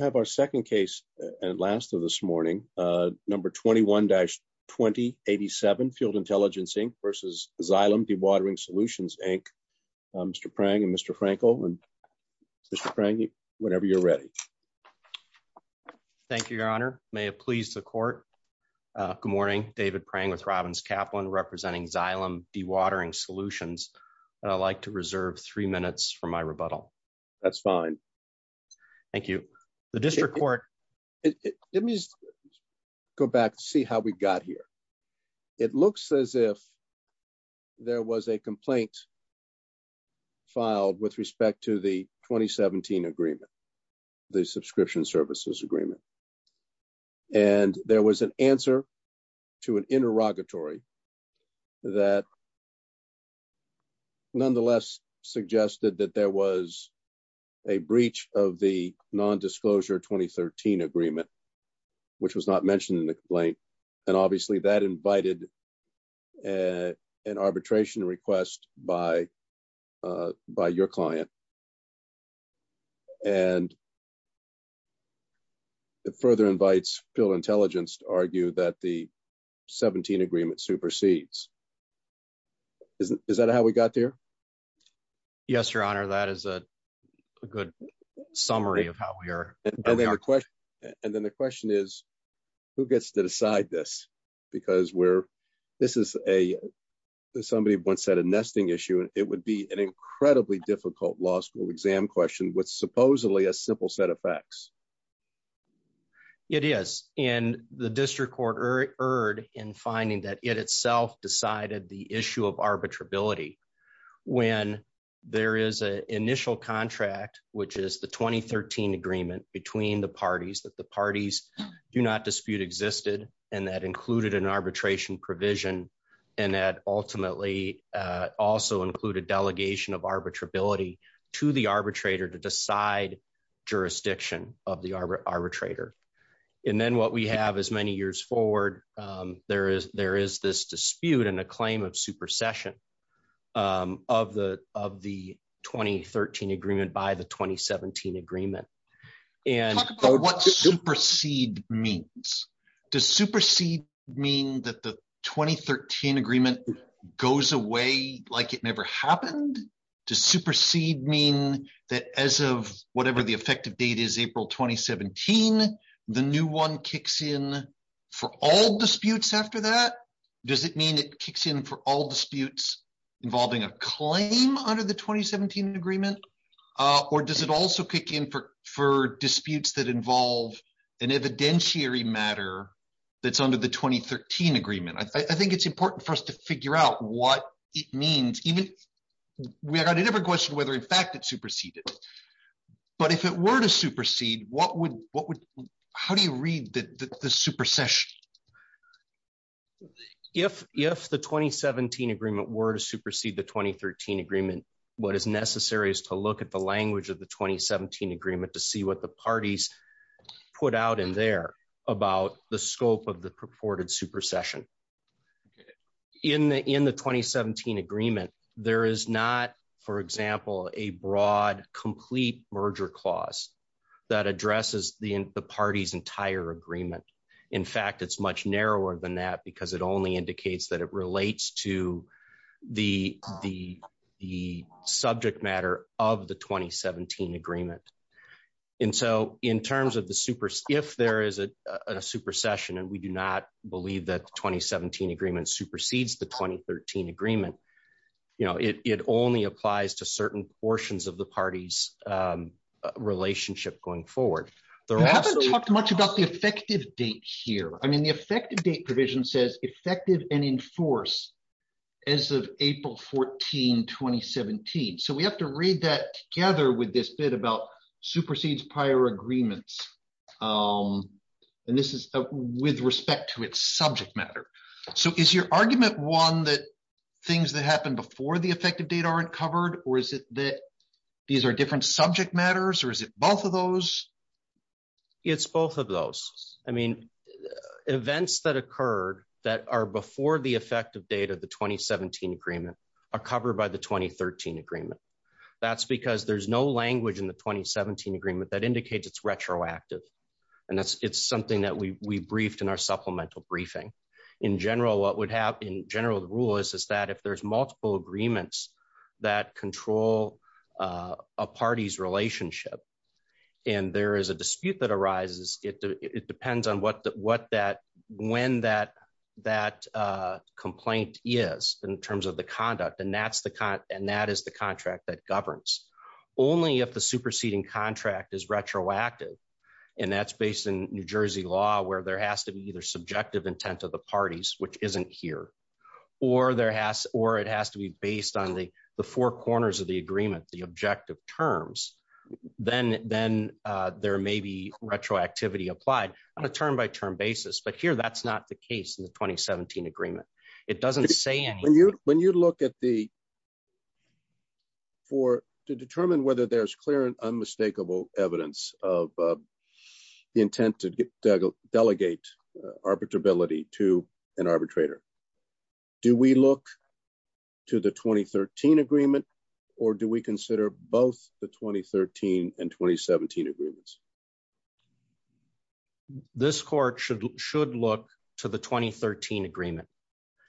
I have our second case and last of this morning. Number 21-2087, Field Intelligence, Inc. versus Xylem Dewatering Solutions, Inc. Mr. Prang and Mr. Frankel and Mr. Prang, whenever you're ready. Thank you, Your Honor. May it please the court. Good morning. David Prang with Robbins Kaplan representing Xylem Dewatering Solutions, and I'd like to reserve three minutes for my rebuttal. That's fine. Thank you. The district court. Let me go back and see how we got here. It looks as if there was a complaint filed with respect to the 2017 agreement, the Subscription Services Agreement. And there was an answer to an interrogatory that nonetheless suggested that there was a breach of the non-disclosure 2013 agreement, which was not mentioned in the complaint. And obviously, that invited an arbitration request by your client. And it further invites Field Intelligence to argue that the 17 agreement supersedes. Is that how we got there? Yes, Your Honor. That is a good summary of how we are. And then the question is, who gets to decide this? Because we're, this is a, somebody once said a nesting issue, it would be an incredibly difficult law school exam question with supposedly a simple set of facts. It is. And the district court erred in finding that it itself decided the issue of arbitrability. When there is an initial contract, which is the 2013 agreement between the parties that the parties do not dispute existed, and that included an arbitration provision. And that ultimately also included delegation of arbitrability to the arbitrator to decide jurisdiction of the arbitrator. And then what we have as many years forward, there is there is this dispute and a claim of supercession of the of the 2013 agreement by the 2017 agreement. And what supersede means? Does supersede mean that the 2013 agreement goes away like it never happened? Does supersede mean that as of whatever the effective date is, April 2017, the new one kicks in for all disputes after that? Does it mean it kicks in for all disputes involving a claim under the 2017 agreement? Or does it also kick in for for disputes that involve an evidentiary matter that's under the 2013 agreement? I think it's hard to figure out what it means. Even we got a different question whether in fact it superseded. But if it were to supersede, what would what would how do you read the the supercession? If if the 2017 agreement were to supersede the 2013 agreement, what is necessary is to look at the language of the 2017 agreement to see what the parties put out in there about the scope of purported supersession. In the in the 2017 agreement, there is not, for example, a broad complete merger clause that addresses the party's entire agreement. In fact, it's much narrower than that because it only indicates that it relates to the the the subject matter of the 2017 agreement. And so in terms of the super, if there is a supercession, and we do not believe that 2017 agreement supersedes the 2013 agreement, you know, it only applies to certain portions of the party's relationship going forward. We haven't talked much about the effective date here. I mean, the effective date provision says effective and in force as of April 14, 2017. So we have to read that together with this bit about supersedes prior agreements. And this is with respect to its subject matter. So is your argument one that things that happened before the effective date aren't covered? Or is it that these are different subject matters? Or is it both of those? It's both of those. I mean, events that occurred that are before the effective date of the 2017 agreement are covered by the 2013 agreement. That's because there's no language in the 2017 agreement that indicates it's retroactive. And that's it's something that we briefed in our supplemental briefing. In general, what would happen in general rule is, is that if there's multiple agreements that control a party's relationship, and there is a dispute that the conduct and that's the and that is the contract that governs only if the superseding contract is retroactive. And that's based in New Jersey law where there has to be either subjective intent of the parties, which isn't here, or there has or it has to be based on the the four corners of the agreement, the objective terms, then then there may be retroactivity applied on a term by term basis. But here that's not the case in the 2017 agreement. It doesn't say when you when you look at the for to determine whether there's clear and unmistakable evidence of the intent to delegate arbitrability to an arbitrator. Do we look to the 2013 agreement? Or do we consider both the 2013 and 2017 agreements? This court should should look to the 2013 agreement.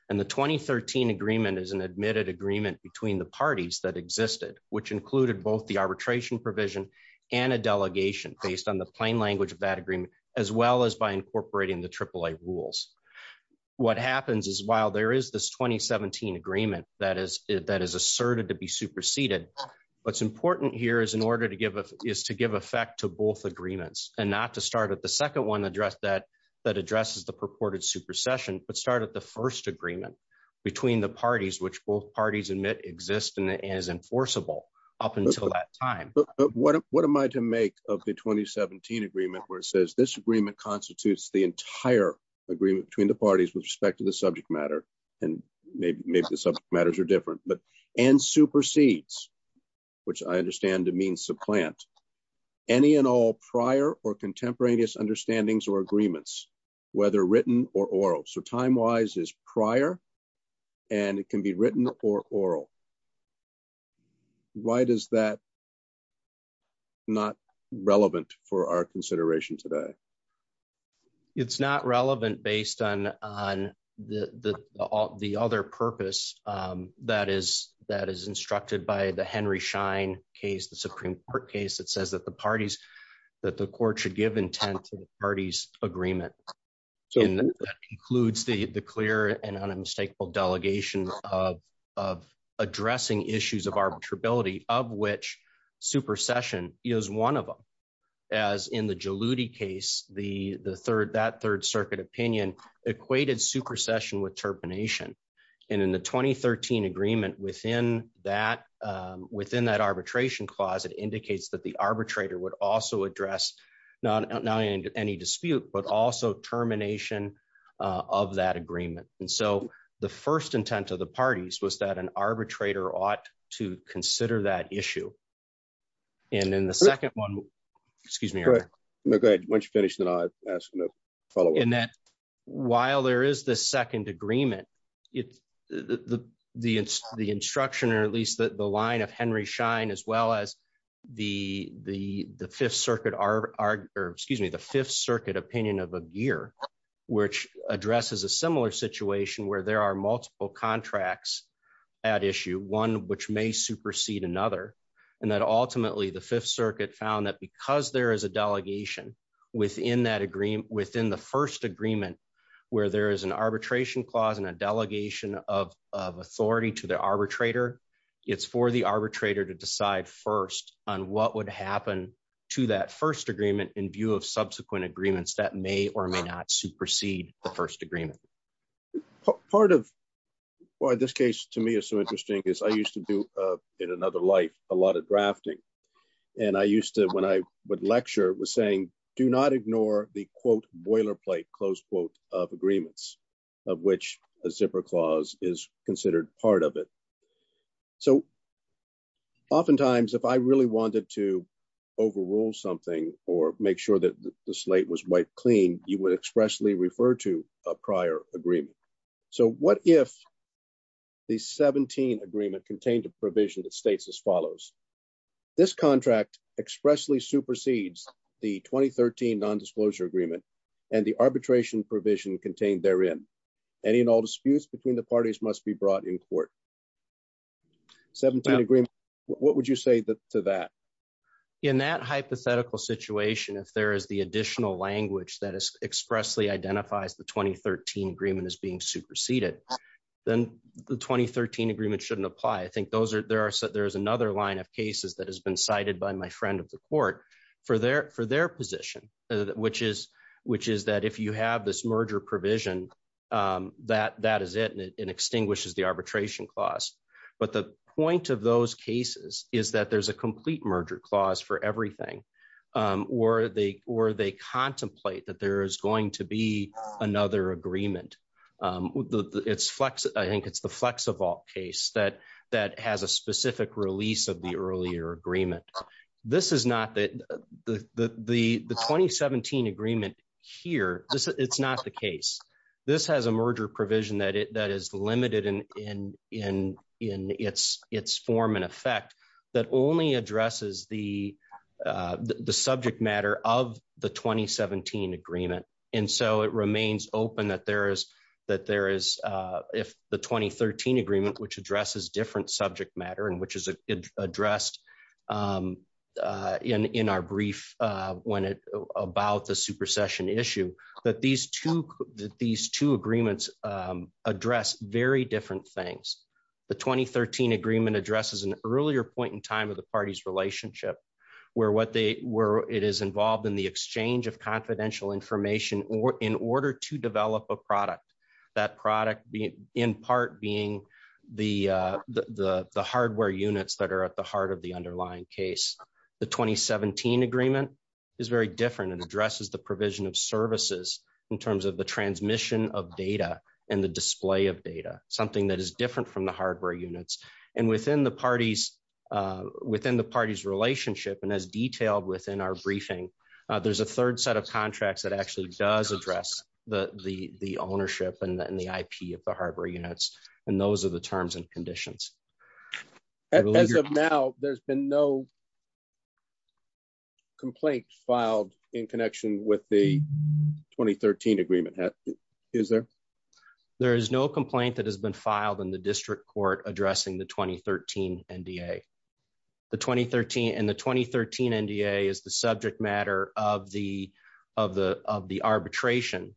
And the 2013 agreement is an admitted agreement between the parties that existed, which included both the arbitration provision and a delegation based on the plain language of that agreement, as well as by incorporating the triple A rules. What happens is while there is this 2017 agreement that is that is asserted to be superseded. What's important here is in order to give is to give effect to both agreements and not to start at the second one address that that addresses the purported supersession but start at the first agreement between the parties which both parties admit exist and is enforceable up until that time, but what am I to make of the 2017 agreement where it says this agreement constitutes the entire agreement between the parties with respect to the subject matter, and maybe maybe the subject matters are different but and supersedes which I understand to mean supplant any and all prior or contemporaneous understandings or agreements, whether written or oral so time wise is prior and it can be written or oral. Why does that not relevant for our consideration today? It's not relevant based on the, the, the other purpose that is that is instructed by the Henry shine case the Supreme Court case that says that the parties that the court should give intent to the parties agreement concludes the the clear and unmistakable delegation of of addressing issues of which supersession is one of them. As in the case, the, the third that Third Circuit opinion equated supersession with termination. And in the 2013 agreement within that within that arbitration clause it indicates that the arbitrator would also address, not any dispute but also termination of that agreement. And so, the first intent of the parties was that an arbitrator ought to consider that issue. And then the second one. Excuse me. Once you finish that I asked follow in that, while there is the second agreement. It's the, the, the instruction or at least the line of Henry shine as well as the, the, the Fifth Circuit are, are, excuse me the Fifth Circuit opinion of a year, which addresses a similar situation where there are multiple contracts at issue one which may supersede another, and that ultimately the Fifth Circuit found that because there is a delegation within that agreement within the first agreement, where there is an arbitration clause and a delegation of authority to the arbitrator. It's for the arbitrator to decide first on what would happen to that first agreement in view of subsequent agreements that may or may not supersede the first agreement. Part of why this case to me is so interesting is I used to do in another life, a lot of drafting. And I used to when I would lecture was saying, do not ignore the quote boilerplate close quote of agreements of which a zipper clause is considered part of it. So oftentimes if I really wanted to overrule something, or make sure that the slate was wiped clean, you would expressly refer to a prior agreement. So what if the 17 agreement contained a provision that states as follows. This contract expressly supersedes the 2013 nondisclosure agreement, and the arbitration provision contained therein. And in all disputes between the parties must be brought in court. 17 agreement. What would you say that to that, in that hypothetical situation, if there is the additional language that is expressly identifies the 2013 agreement is being superseded, then the 2013 agreement shouldn't apply. I think there's another line of cases that has been cited by my friend of the court for their position, which is that if you have this merger provision, that is it, and it extinguishes the arbitration clause. But the or they contemplate that there is going to be another agreement. It's flex, I think it's the flex of all case that that has a specific release of the earlier agreement. This is not that the 2017 agreement here, it's not the case. This has a merger provision that is limited in its form and effect that only addresses the the subject matter of the 2017 agreement. And so it remains open that there is that there is if the 2013 agreement which addresses different subject matter and which is addressed in our brief, when it about the supersession issue, that these two, these two agreements address very different things. The 2013 agreement addresses an earlier point in time of the party's relationship, where what they were it is involved in the exchange of confidential information or in order to develop a product, that product being in part being the, the hardware units that are at the heart of the underlying case. The 2017 agreement is very different and addresses the provision of services in terms of the transmission of data and the display of data, something that is different from the hardware units. And within the parties, within the party's relationship, and as detailed within our briefing, there's a third set of contracts that actually does address the the the ownership and the IP of the hardware units. And those are the terms and conditions. As of now, there's been no complaint filed in connection with the 2013 agreement. Is there? There is no complaint that has been filed in the district court addressing the 2013 NDA. The 2013 and the 2013 NDA is the subject matter of the of the of the arbitration,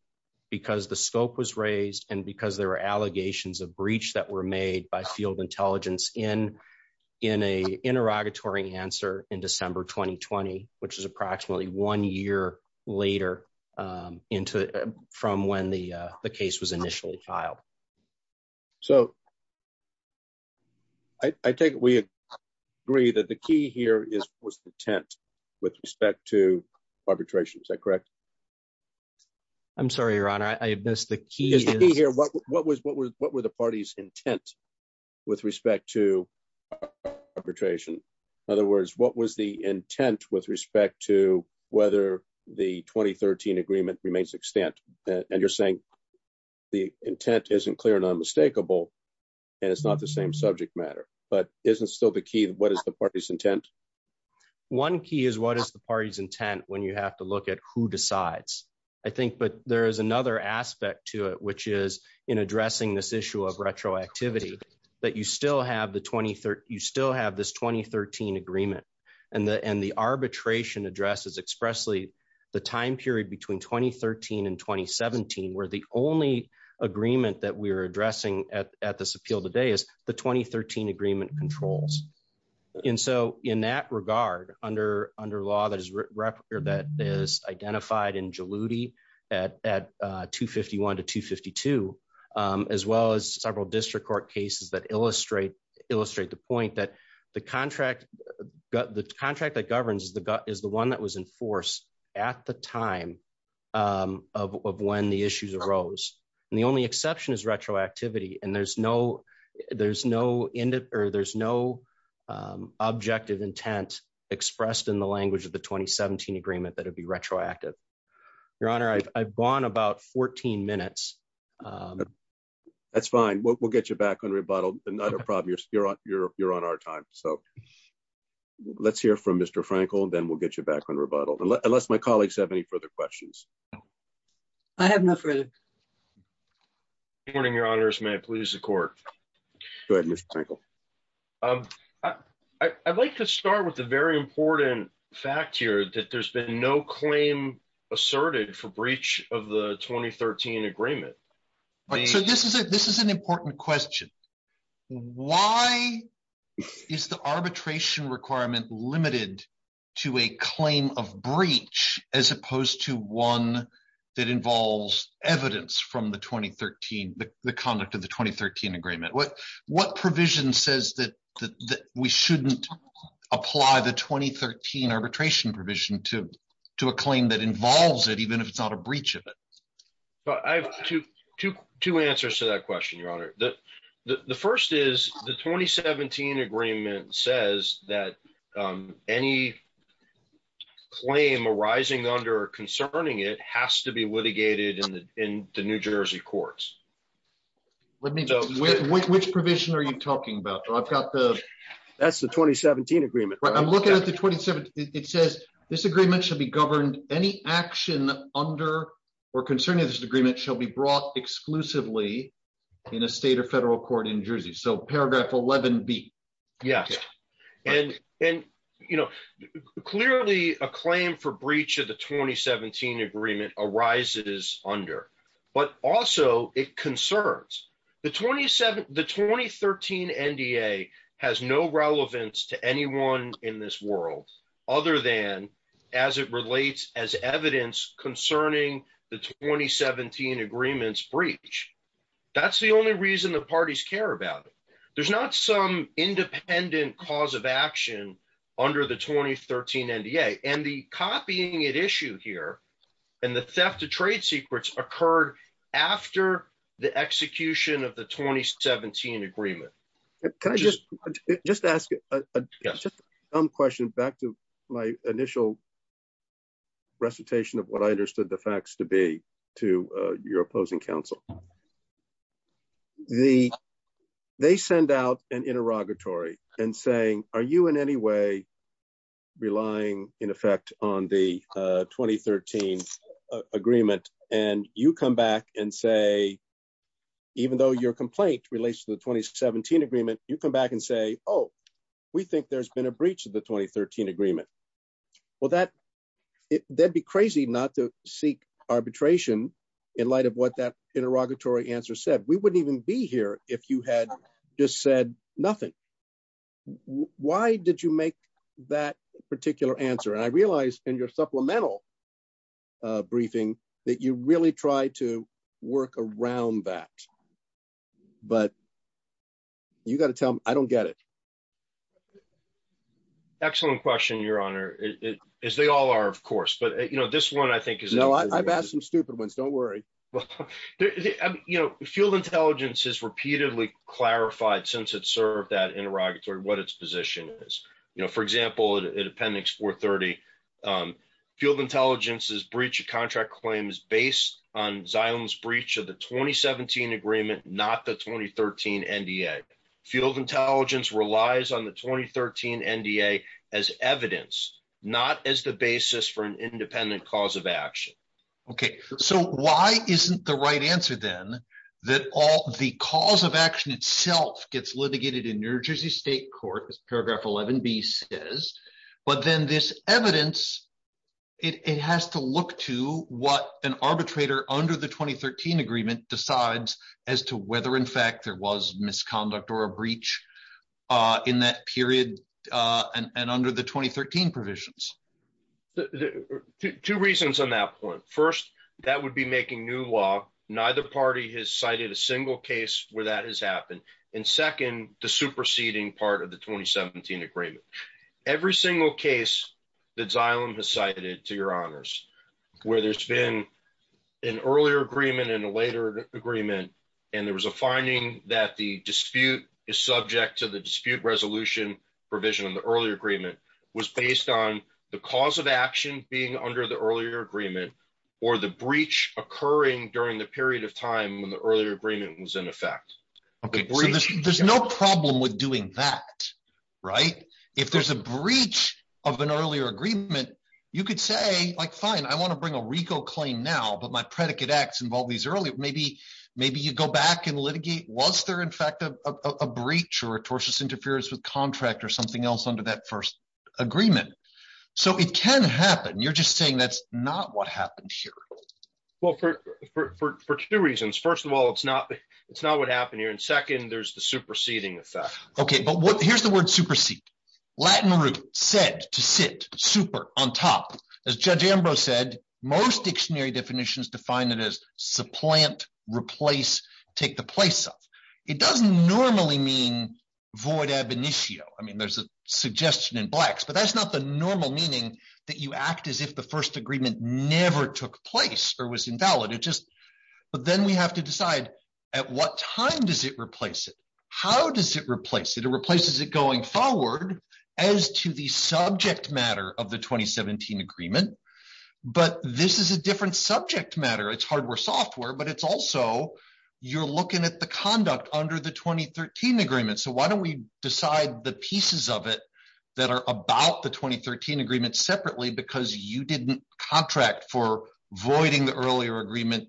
because the scope was raised and because there were allegations of breach that were made by interrogatory answer in December 2020, which is approximately one year later into from when the case was initially filed. So I think we agree that the key here is was the tent with respect to arbitration. Is that correct? I'm sorry, your honor, I missed the key here. What was what was what were the party's intent with respect to arbitration? In other words, what was the intent with respect to whether the 2013 agreement remains extent? And you're saying the intent isn't clear and unmistakable. And it's not the same subject matter, but isn't still the key. What is the party's intent? One key is what is the party's intent when you have to look at who decides, I think. But there is another aspect to it, which is in addressing this issue of retroactivity, that you still have the 20, you still have this 2013 agreement and the and the arbitration addresses expressly the time period between 2013 and 2017, where the only agreement that we're addressing at this appeal today is the 2013 agreement controls. And so in that regard, under under law that is that is identified in Jaluti at at 251 to 252, as well as several district court cases that illustrate illustrate the point that the contract, the contract that governs the gut is the one that was enforced at the time of when the issues arose. And the only of the 2017 agreement that would be retroactive. Your Honor, I've gone about 14 minutes. That's fine. We'll get you back on rebuttal. Another problem. You're, you're, you're on our time. So let's hear from Mr. Frankel, then we'll get you back on rebuttal. Unless my colleagues have any further questions. I have no further. Morning, Your Honor's may please the court. Good. I'd like to start with a very important fact here that there's been no claim asserted for breach of the 2013 agreement. But this is a this is an important question. Why is the arbitration requirement limited to a claim of breach as opposed to one that involves evidence from the 2013 the conduct of the 2013 agreement? What what provision says that we shouldn't apply the 2013 arbitration provision to do a claim that involves it even if it's not a breach of it? But I have two, two, two answers to that question, Your Honor, the first is the 2017 agreement says that any claim arising under concerning it has to be litigated in the in the New Jersey courts. Let me know which provision are you talking about? I've got the that's the 2017 agreement, right? I'm looking at the 27. It says this agreement should be governed any action under or concerning this agreement shall be brought exclusively in a state or federal court in Jersey. So paragraph 11 B. Yeah. And and, you know, clearly a claim for breach of the 2017 agreement arises under but also it concerns the 27 the 2013 NDA has no relevance to anyone in this world, other than as it relates as evidence concerning the 2017 agreements breach. That's the only reason the parties care about it. There's not some independent cause of action under the 2013 NDA and the copying at issue here. And the theft of trade secrets occurred after the execution of the 2017 agreement. Can I just just ask a question back to my initial recitation of what I understood the facts to be to your opposing counsel? The they send out an interrogatory and saying, are you in any way relying in effect on the 2013 agreement and you come back and say, even though your complaint relates to the 2017 agreement, you come back and say, oh, we think there's been a breach of the 2013 agreement. Well, that it that'd be crazy not to seek arbitration in light of what that interrogatory answer said we wouldn't even be here if you had just said nothing. Why did you make that particular answer? And I realized in your supplemental briefing that you really try to work around that. But you got to tell me I don't get it. Excellent question, your honor, as they all are, of course. But this one, I think, is no, I've asked some stupid ones. Don't worry. You know, field intelligence has repeatedly clarified since it served that interrogatory what its position is. For example, it appendix 430 field intelligence's breach of contract claims based on Zion's breach of the 2017 agreement, not the 2013 NDA. Field intelligence relies on the 2013 NDA as evidence, not as the basis for an independent cause of action. Okay, so why isn't the right answer, then, that all the cause of action itself gets litigated in New Jersey State Court, as paragraph 11b says, but then this evidence, it has to look to what an arbitrator under the 2013 agreement decides as to whether, in fact, there was misconduct or a breach in that period and under the 2013 provisions? Two reasons on that point. First, that would be making new law. Neither party has cited a single case where that has happened. And second, the superseding part of the 2017 agreement. Every single case that Zion has cited, to your honors, where there's been an earlier agreement and a later agreement, and there was a finding that the dispute is subject to the dispute resolution provision in the earlier agreement, was based on the cause of action being under the earlier agreement or the breach occurring during the period of time when the earlier agreement was in effect. Okay, there's no problem with doing that, right? If there's a breach of an earlier agreement, you could say, like, fine, I want to bring a RICO claim now, but my predicate acts involve these earlier. Maybe you go back and litigate, was there, in fact, a breach or a tortious interference with contract or something else under that first agreement? So it can happen. You're just saying that's not what happened here. Well, for two reasons. First of all, it's not what happened here. And second, there's the superseding effect. Okay, but here's the word supersede. Latin root, sed, to sit, super, on top. As Judge Ambrose said, most dictionary definitions define it as supplant, replace, take the place of. It doesn't normally mean void ab initio. I mean, there's a suggestion in blacks, but that's not the normal meaning that you act as if the first agreement never took place or was invalid. But then we have to decide at what time does it replace it? How does it replace it? It replaces it going forward as to the subject matter of the 2017 agreement. But this is a different subject matter. It's hardware software, but it's also you're looking at the conduct under the 2013 agreement. So why don't we decide the pieces of that are about the 2013 agreement separately because you didn't contract for voiding the earlier agreement,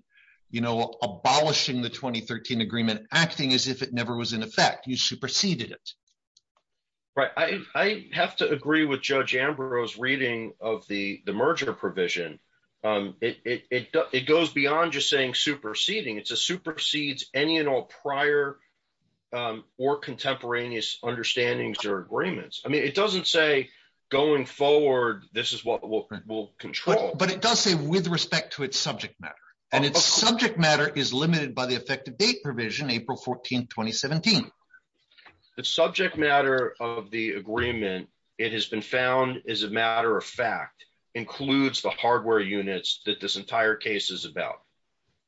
abolishing the 2013 agreement, acting as if it never was in effect. You superseded it. Right. I have to agree with Judge Ambrose reading of the merger provision. It goes beyond just saying superseding. It's a supersedes any and all prior or contemporaneous understandings or agreements. I mean, it doesn't say going forward, this is what we'll control. But it does say with respect to its subject matter and its subject matter is limited by the effective date provision, April 14th, 2017. The subject matter of the agreement, it has been found as a matter of fact includes the hardware units that this entire case is about.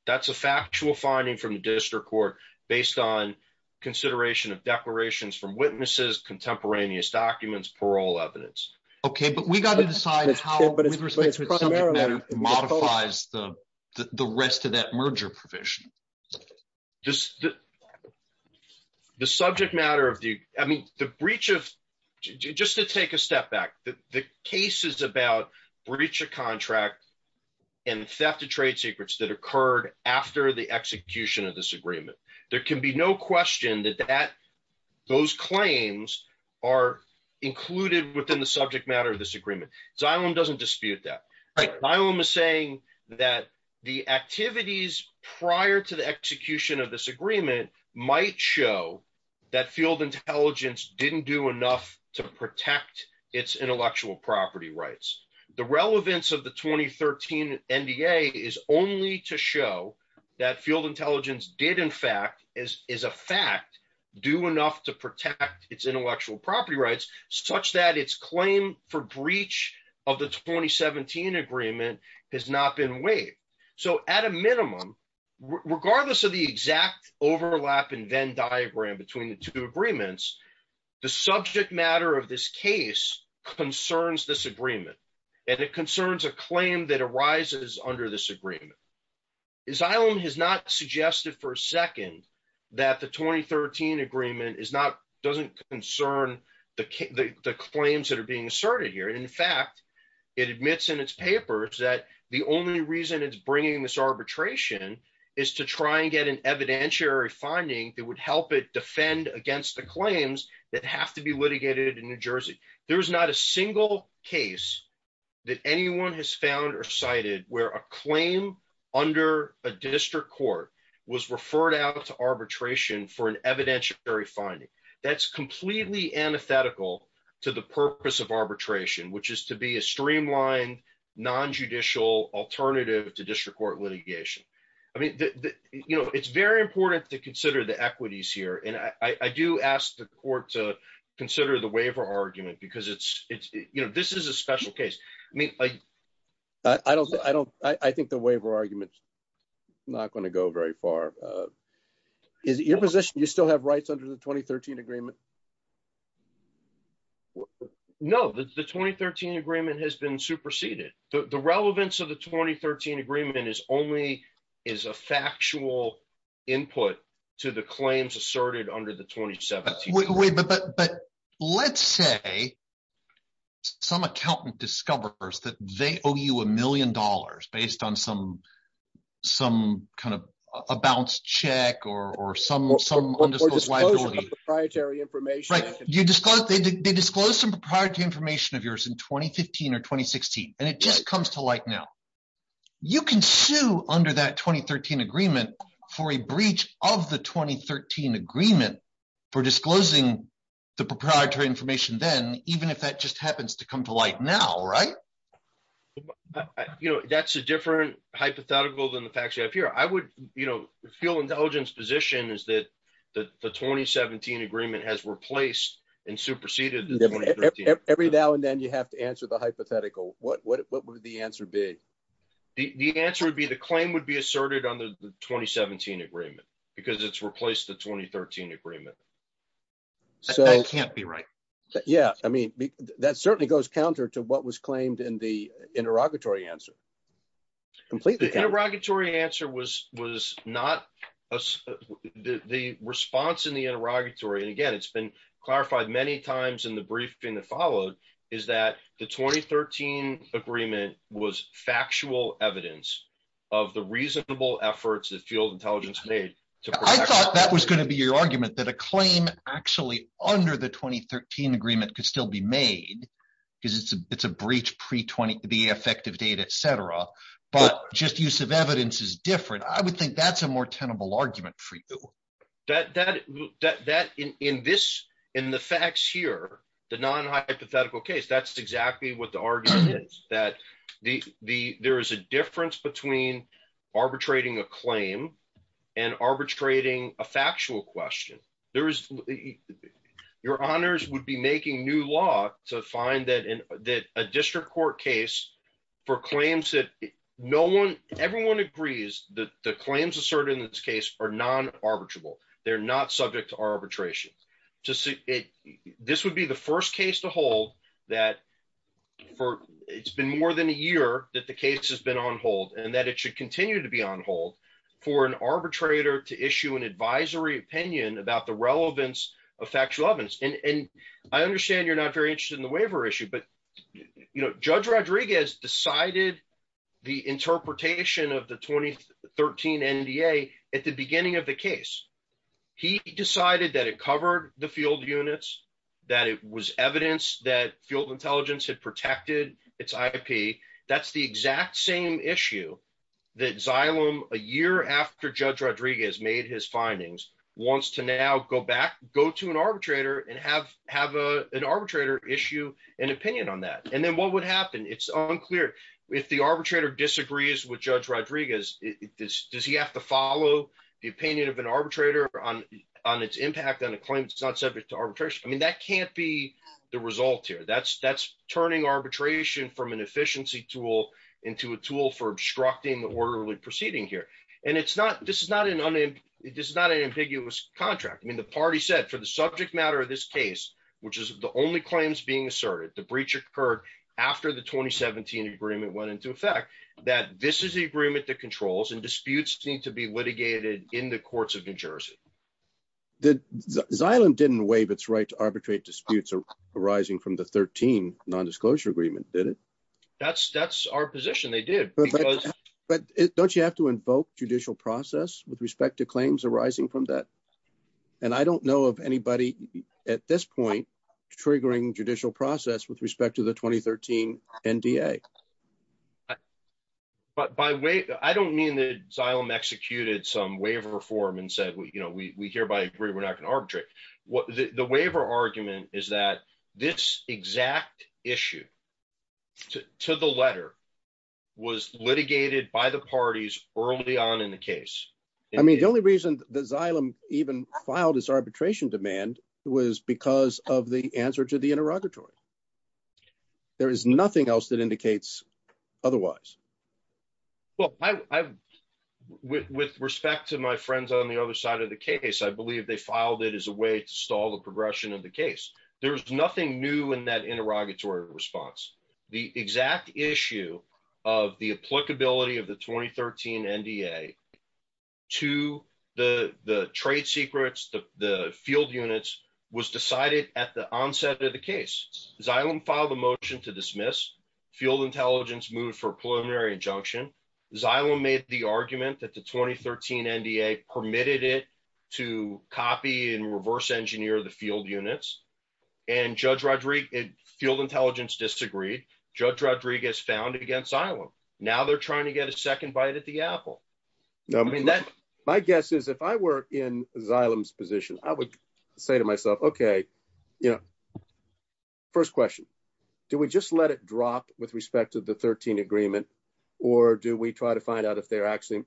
That's a factual finding from the district court based on consideration of declarations from witnesses, contemporaneous documents, parole evidence. Okay. But we got to decide how it modifies the rest of that merger provision. The subject matter of the, I mean, the breach of, just to take a step back, the cases about breach of contract and the theft of trade secrets that occurred after the execution of this agreement. There can be no question that that those claims are included within the subject matter of this agreement. Xylem doesn't dispute that. Xylem is saying that the activities prior to the execution of this agreement might show that field intelligence didn't do enough to protect its intellectual property rights. The relevance of the 2013 NDA is only to show that field intelligence did in fact, is a fact, do enough to protect its intellectual property rights, such that its claim for breach of the 2017 agreement has not been waived. So at a minimum, regardless of the exact overlap and Venn diagram between the two agreements, the subject matter of this case concerns this agreement and it concerns a claim that arises under this agreement. Xylem has not suggested for a second that the 2013 agreement is not, doesn't concern the claims that are being asserted here. And in fact, it admits in its papers that the only reason it's bringing this arbitration is to try and get an evidentiary finding that help it defend against the claims that have to be litigated in New Jersey. There's not a single case that anyone has found or cited where a claim under a district court was referred out to arbitration for an evidentiary finding. That's completely antithetical to the purpose of arbitration, which is to be a streamlined nonjudicial alternative to district court litigation. I mean, you know, it's very important to consider the equities here. And I do ask the court to consider the waiver argument because it's, you know, this is a special case. I mean, I don't, I don't, I think the waiver arguments not going to go very far. Is it your position, you still have rights under the 2013 agreement? No, the 2013 agreement has been superseded. The relevance of the 2013 agreement is only is a factual input to the claims asserted under the 2017. But let's say some accountant discovers that they owe you a million dollars based on some, some kind of a balanced check or some, some undisclosed liability. Or disclosure of proprietary information. Right. You disclose, they disclose some proprietary information of yours in 2015 or now. You can sue under that 2013 agreement for a breach of the 2013 agreement for disclosing the proprietary information then, even if that just happens to come to light now, right? You know, that's a different hypothetical than the facts you have here. I would, you know, feel intelligence position is that the 2017 agreement has replaced and superseded. Every now and then you have to answer the hypothetical. What, what, what would the answer be? The answer would be the claim would be asserted on the 2017 agreement because it's replaced the 2013 agreement. So I can't be right. Yeah. I mean, that certainly goes counter to what was claimed in the interrogatory answer. Completely. The interrogatory answer was, was not the response in the interrogatory. And again, it's been clarified many times in the briefing that followed is that the 2013 agreement was factual evidence of the reasonable efforts that field intelligence made. I thought that was going to be your argument that a claim actually under the 2013 agreement could still be made because it's a, it's a breach pre 20, the effective date, et cetera. But just use of evidence is different. I would think that's a more tenable argument for you. That, that, that, that in, in this, in the facts here, the non-hypothetical case, that's exactly what the argument is that the, the, there is a difference between arbitrating a claim and arbitrating a factual question. There is your honors would be making new law to find that in a district court case for claims that no one, everyone agrees that the claims asserted in this case are non arbitrable. They're not subject to arbitration to see it. This would be the first case to hold that for, it's been more than a year that the case has been on hold and that it should continue to be on hold for an arbitrator to issue an advisory opinion about the relevance of factual evidence. And I understand you're not very interested in the waiver issue, but, you know, judge Rodriguez decided the interpretation of 2013 NDA at the beginning of the case. He decided that it covered the field units, that it was evidence that field intelligence had protected its IP. That's the exact same issue that Xylem, a year after judge Rodriguez made his findings, wants to now go back, go to an arbitrator and have, have a, an arbitrator issue an opinion on that. And then what would happen? It's unclear. If the arbitrator disagrees with judge Rodriguez, does he have to follow the opinion of an arbitrator on, on its impact on a claim? It's not subject to arbitration. I mean, that can't be the result here. That's, that's turning arbitration from an efficiency tool into a tool for obstructing the orderly proceeding here. And it's not, this is not an, this is not an ambiguous contract. I mean, the party said for the subject matter of this case, which is the only claims being asserted, the breach occurred after the 2017 agreement went into effect, that this is the agreement that controls and disputes need to be litigated in the courts of New Jersey. Did Xylem didn't waive its right to arbitrate disputes arising from the 13 non-disclosure agreement, did it? That's, that's our position. They did. But don't you have to invoke judicial process with respect to claims arising from that? And I don't know of anybody at this point triggering judicial process with respect to the 2013 NDA. But by way, I don't mean that Xylem executed some waiver form and said, well, you know, we, we hereby agree we're not going to arbitrate. What the waiver argument is that this exact issue to the letter was litigated by the parties early on in the case. I mean, the only reason the Xylem even filed his arbitration demand was because of the answer to the interrogatory. There is nothing else that indicates otherwise. Well, I, I, with, with respect to my friends on the other side of the case, I believe they filed it as a way to stall the progression of the case. There's nothing new in that NDA to the, the trade secrets, the, the field units was decided at the onset of the case. Xylem filed a motion to dismiss. Field intelligence moved for preliminary injunction. Xylem made the argument that the 2013 NDA permitted it to copy and reverse engineer the field units and judge Rodrigue, field intelligence disagreed. Judge Rodrigue is found against Xylem. Now they're trying to get a second bite at the apple. My guess is if I were in Xylem's position, I would say to myself, okay, you know, first question, do we just let it drop with respect to the 13 agreement? Or do we try to find out if they're actually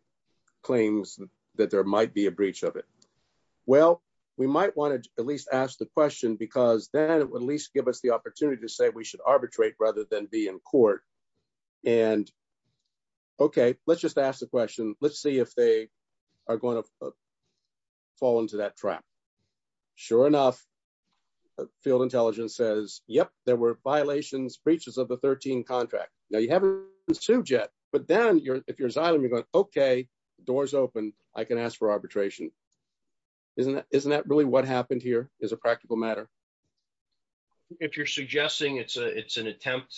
claims that there might be a breach of it? Well, we might want to at least ask the question because then it would at least give us the opportunity to say we should arbitrate rather than be in court. And okay, let's just ask the question. Let's see if they are going to fall into that trap. Sure enough, field intelligence says, yep, there were violations, breaches of the 13 contract. Now you haven't sued yet, but then if you're Xylem, you're going, okay, the door's open. I can ask for arbitration. Isn't that, isn't if you're suggesting it's a, it's an attempt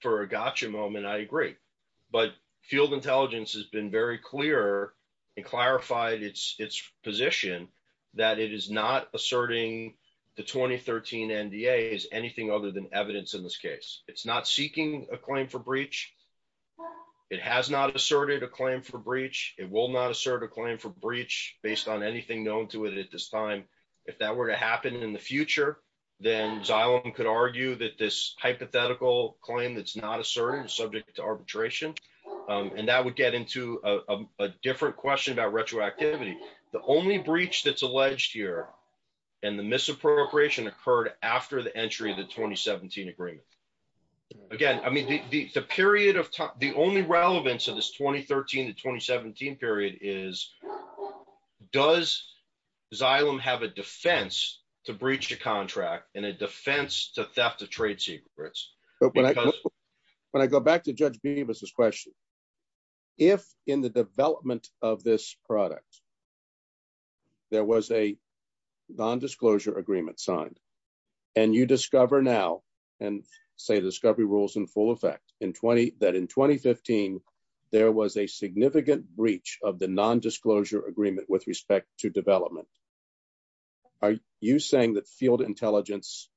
for a gotcha moment, I agree, but field intelligence has been very clear and clarified its position that it is not asserting the 2013 NDA is anything other than evidence in this case. It's not seeking a claim for breach. It has not asserted a claim for breach. It will not assert a claim for breach based on anything known to it at this time. If that were to happen in the future, then Xylem could argue that this hypothetical claim, that's not a certain subject to arbitration. And that would get into a different question about retroactivity. The only breach that's alleged here and the misappropriation occurred after the entry of the 2017 agreement. Again, I mean, the, the, the period of time, the only relevance of this 2013 to 2017 period is does Xylem have a defense to breach the contract and a defense to theft of trade secrets? When I go back to judge Beavis's question, if in the development of this product, there was a non-disclosure agreement signed and you discover now and say the discovery rules in full effect in 20, that in 2015, there was a significant breach of the non-disclosure agreement with respect to development. Are you saying that field intelligence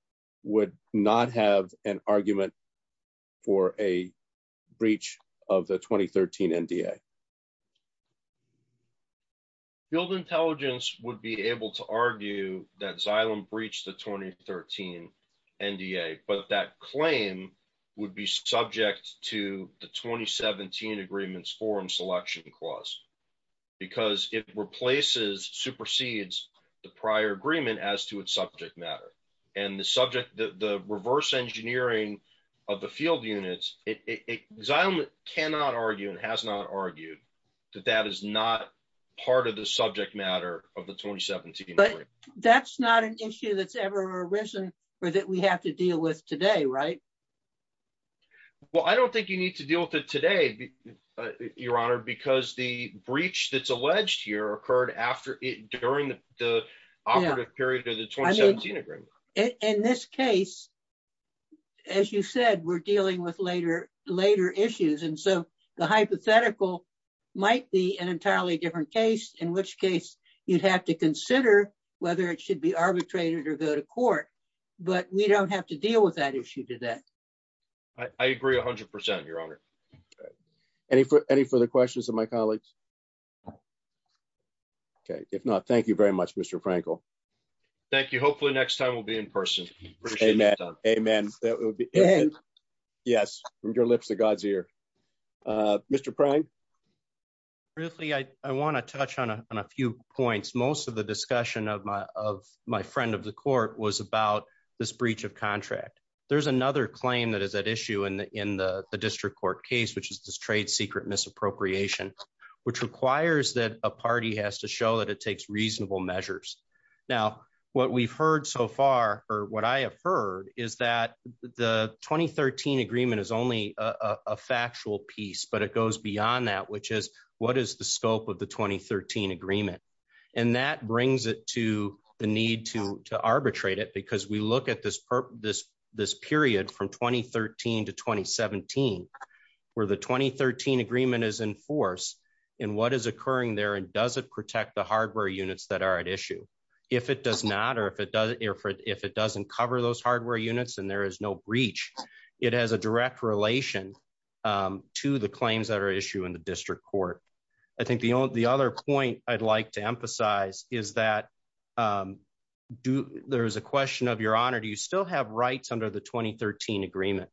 would not have an argument for a breach of the 2013 NDA? Field intelligence would be able to argue that Xylem breached the 2013 NDA, but that claim would be subject to the 2017 agreements forum selection clause because it replaces, supersedes the prior agreement as to its subject matter. And the subject, the reverse engineering of the field units, Xylem cannot argue and has not argued that that is not part of the subject matter of the 2017 agreement. That's not an issue that's ever arisen or that we have to deal with today, right? Well, I don't think you need to deal with it today, your honor, because the breach that's alleged here occurred after it, during the operative period of the 2017 agreement. In this case, as you said, we're dealing with later issues. And so the hypothetical might be an entirely different case, in which case you'd have to consider whether it should be arbitrated or go to court, but we don't have to deal with that issue today. I agree a hundred percent, your honor. Any further questions of my colleagues? Okay. If not, thank you very much, Mr. Frankel. Thank you. Hopefully next time we'll be in person. Amen. Amen. Yes. From your lips to God's ear. Mr. Prang? Briefly, I want to touch on a few points. Most of the discussion of my friend of the court was about this breach of contract. There's another claim that is at issue in the district court case, which is this trade secret misappropriation, which requires that a party has to show that it takes reasonable measures. Now, what we've heard so far, or what I have heard, is that the 2013 agreement is only a factual piece, but it goes beyond that, which is, what is the scope of the 2013 agreement? And that brings it to the need to arbitrate it, because we look at this period from 2013 to 2017, where the 2013 agreement is in force, and what is occurring there, and does it protect the hardware units that are at issue? If it does not, or if it doesn't cover those hardware units and there is no breach, it has a direct relation to the claims that are at issue in the district court. I think the other point I'd like to emphasize is that there is a question of, Your Honor, do you still have rights under the 2013 agreement?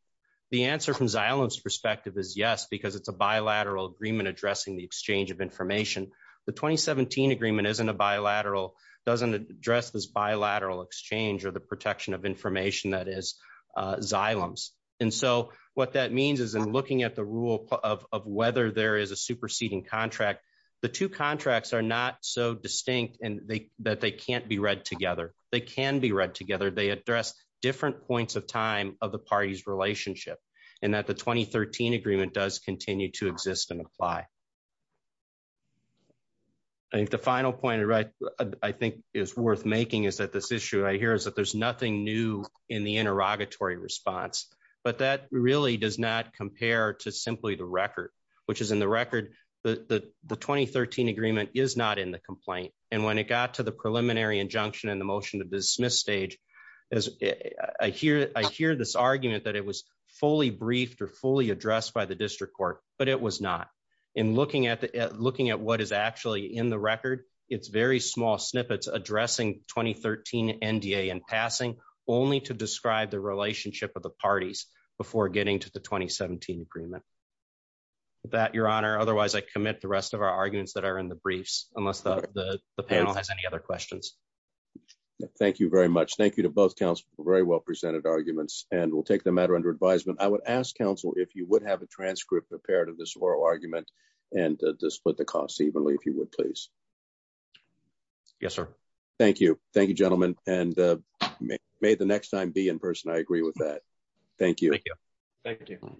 The answer from Xylem's perspective is yes, because it's a bilateral agreement addressing the exchange of information. The 2017 agreement isn't a bilateral, doesn't address this bilateral exchange or the protection of information that is Xylem's. And so what that means is in looking at the rule of whether there is a superseding contract, the two contracts are not so distinct that they can't be read together. They can be read together. They address different points of time of the party's relationship, and that the 2013 agreement does continue to exist and apply. I think the final point I think is worth making is that this issue right here is that there's nothing new in the interrogatory response, but that really does not compare to simply the record, which is in the record that the 2013 agreement is not in the complaint. And when it got to the preliminary injunction and the motion to dismiss stage, I hear this argument that it was fully briefed or fully addressed by the district court, but it was not. In looking at what is actually in the record, it's very small snippets addressing 2013 NDA and passing only to describe the relationship of the parties before getting to the 2017 agreement. With that, Your Honor, otherwise I commit the rest of our arguments that are in the briefs, unless the panel has any other questions. Thank you very much. Thank you to both counsel for very well presented arguments, and we'll take the matter under advisement. I would ask counsel if you would have a transcript prepared of this oral argument and to split the costs evenly, if you would, please. Yes, sir. Thank you. Thank you, gentlemen. And may the next time be in person. I agree with that. Thank you. Thank you.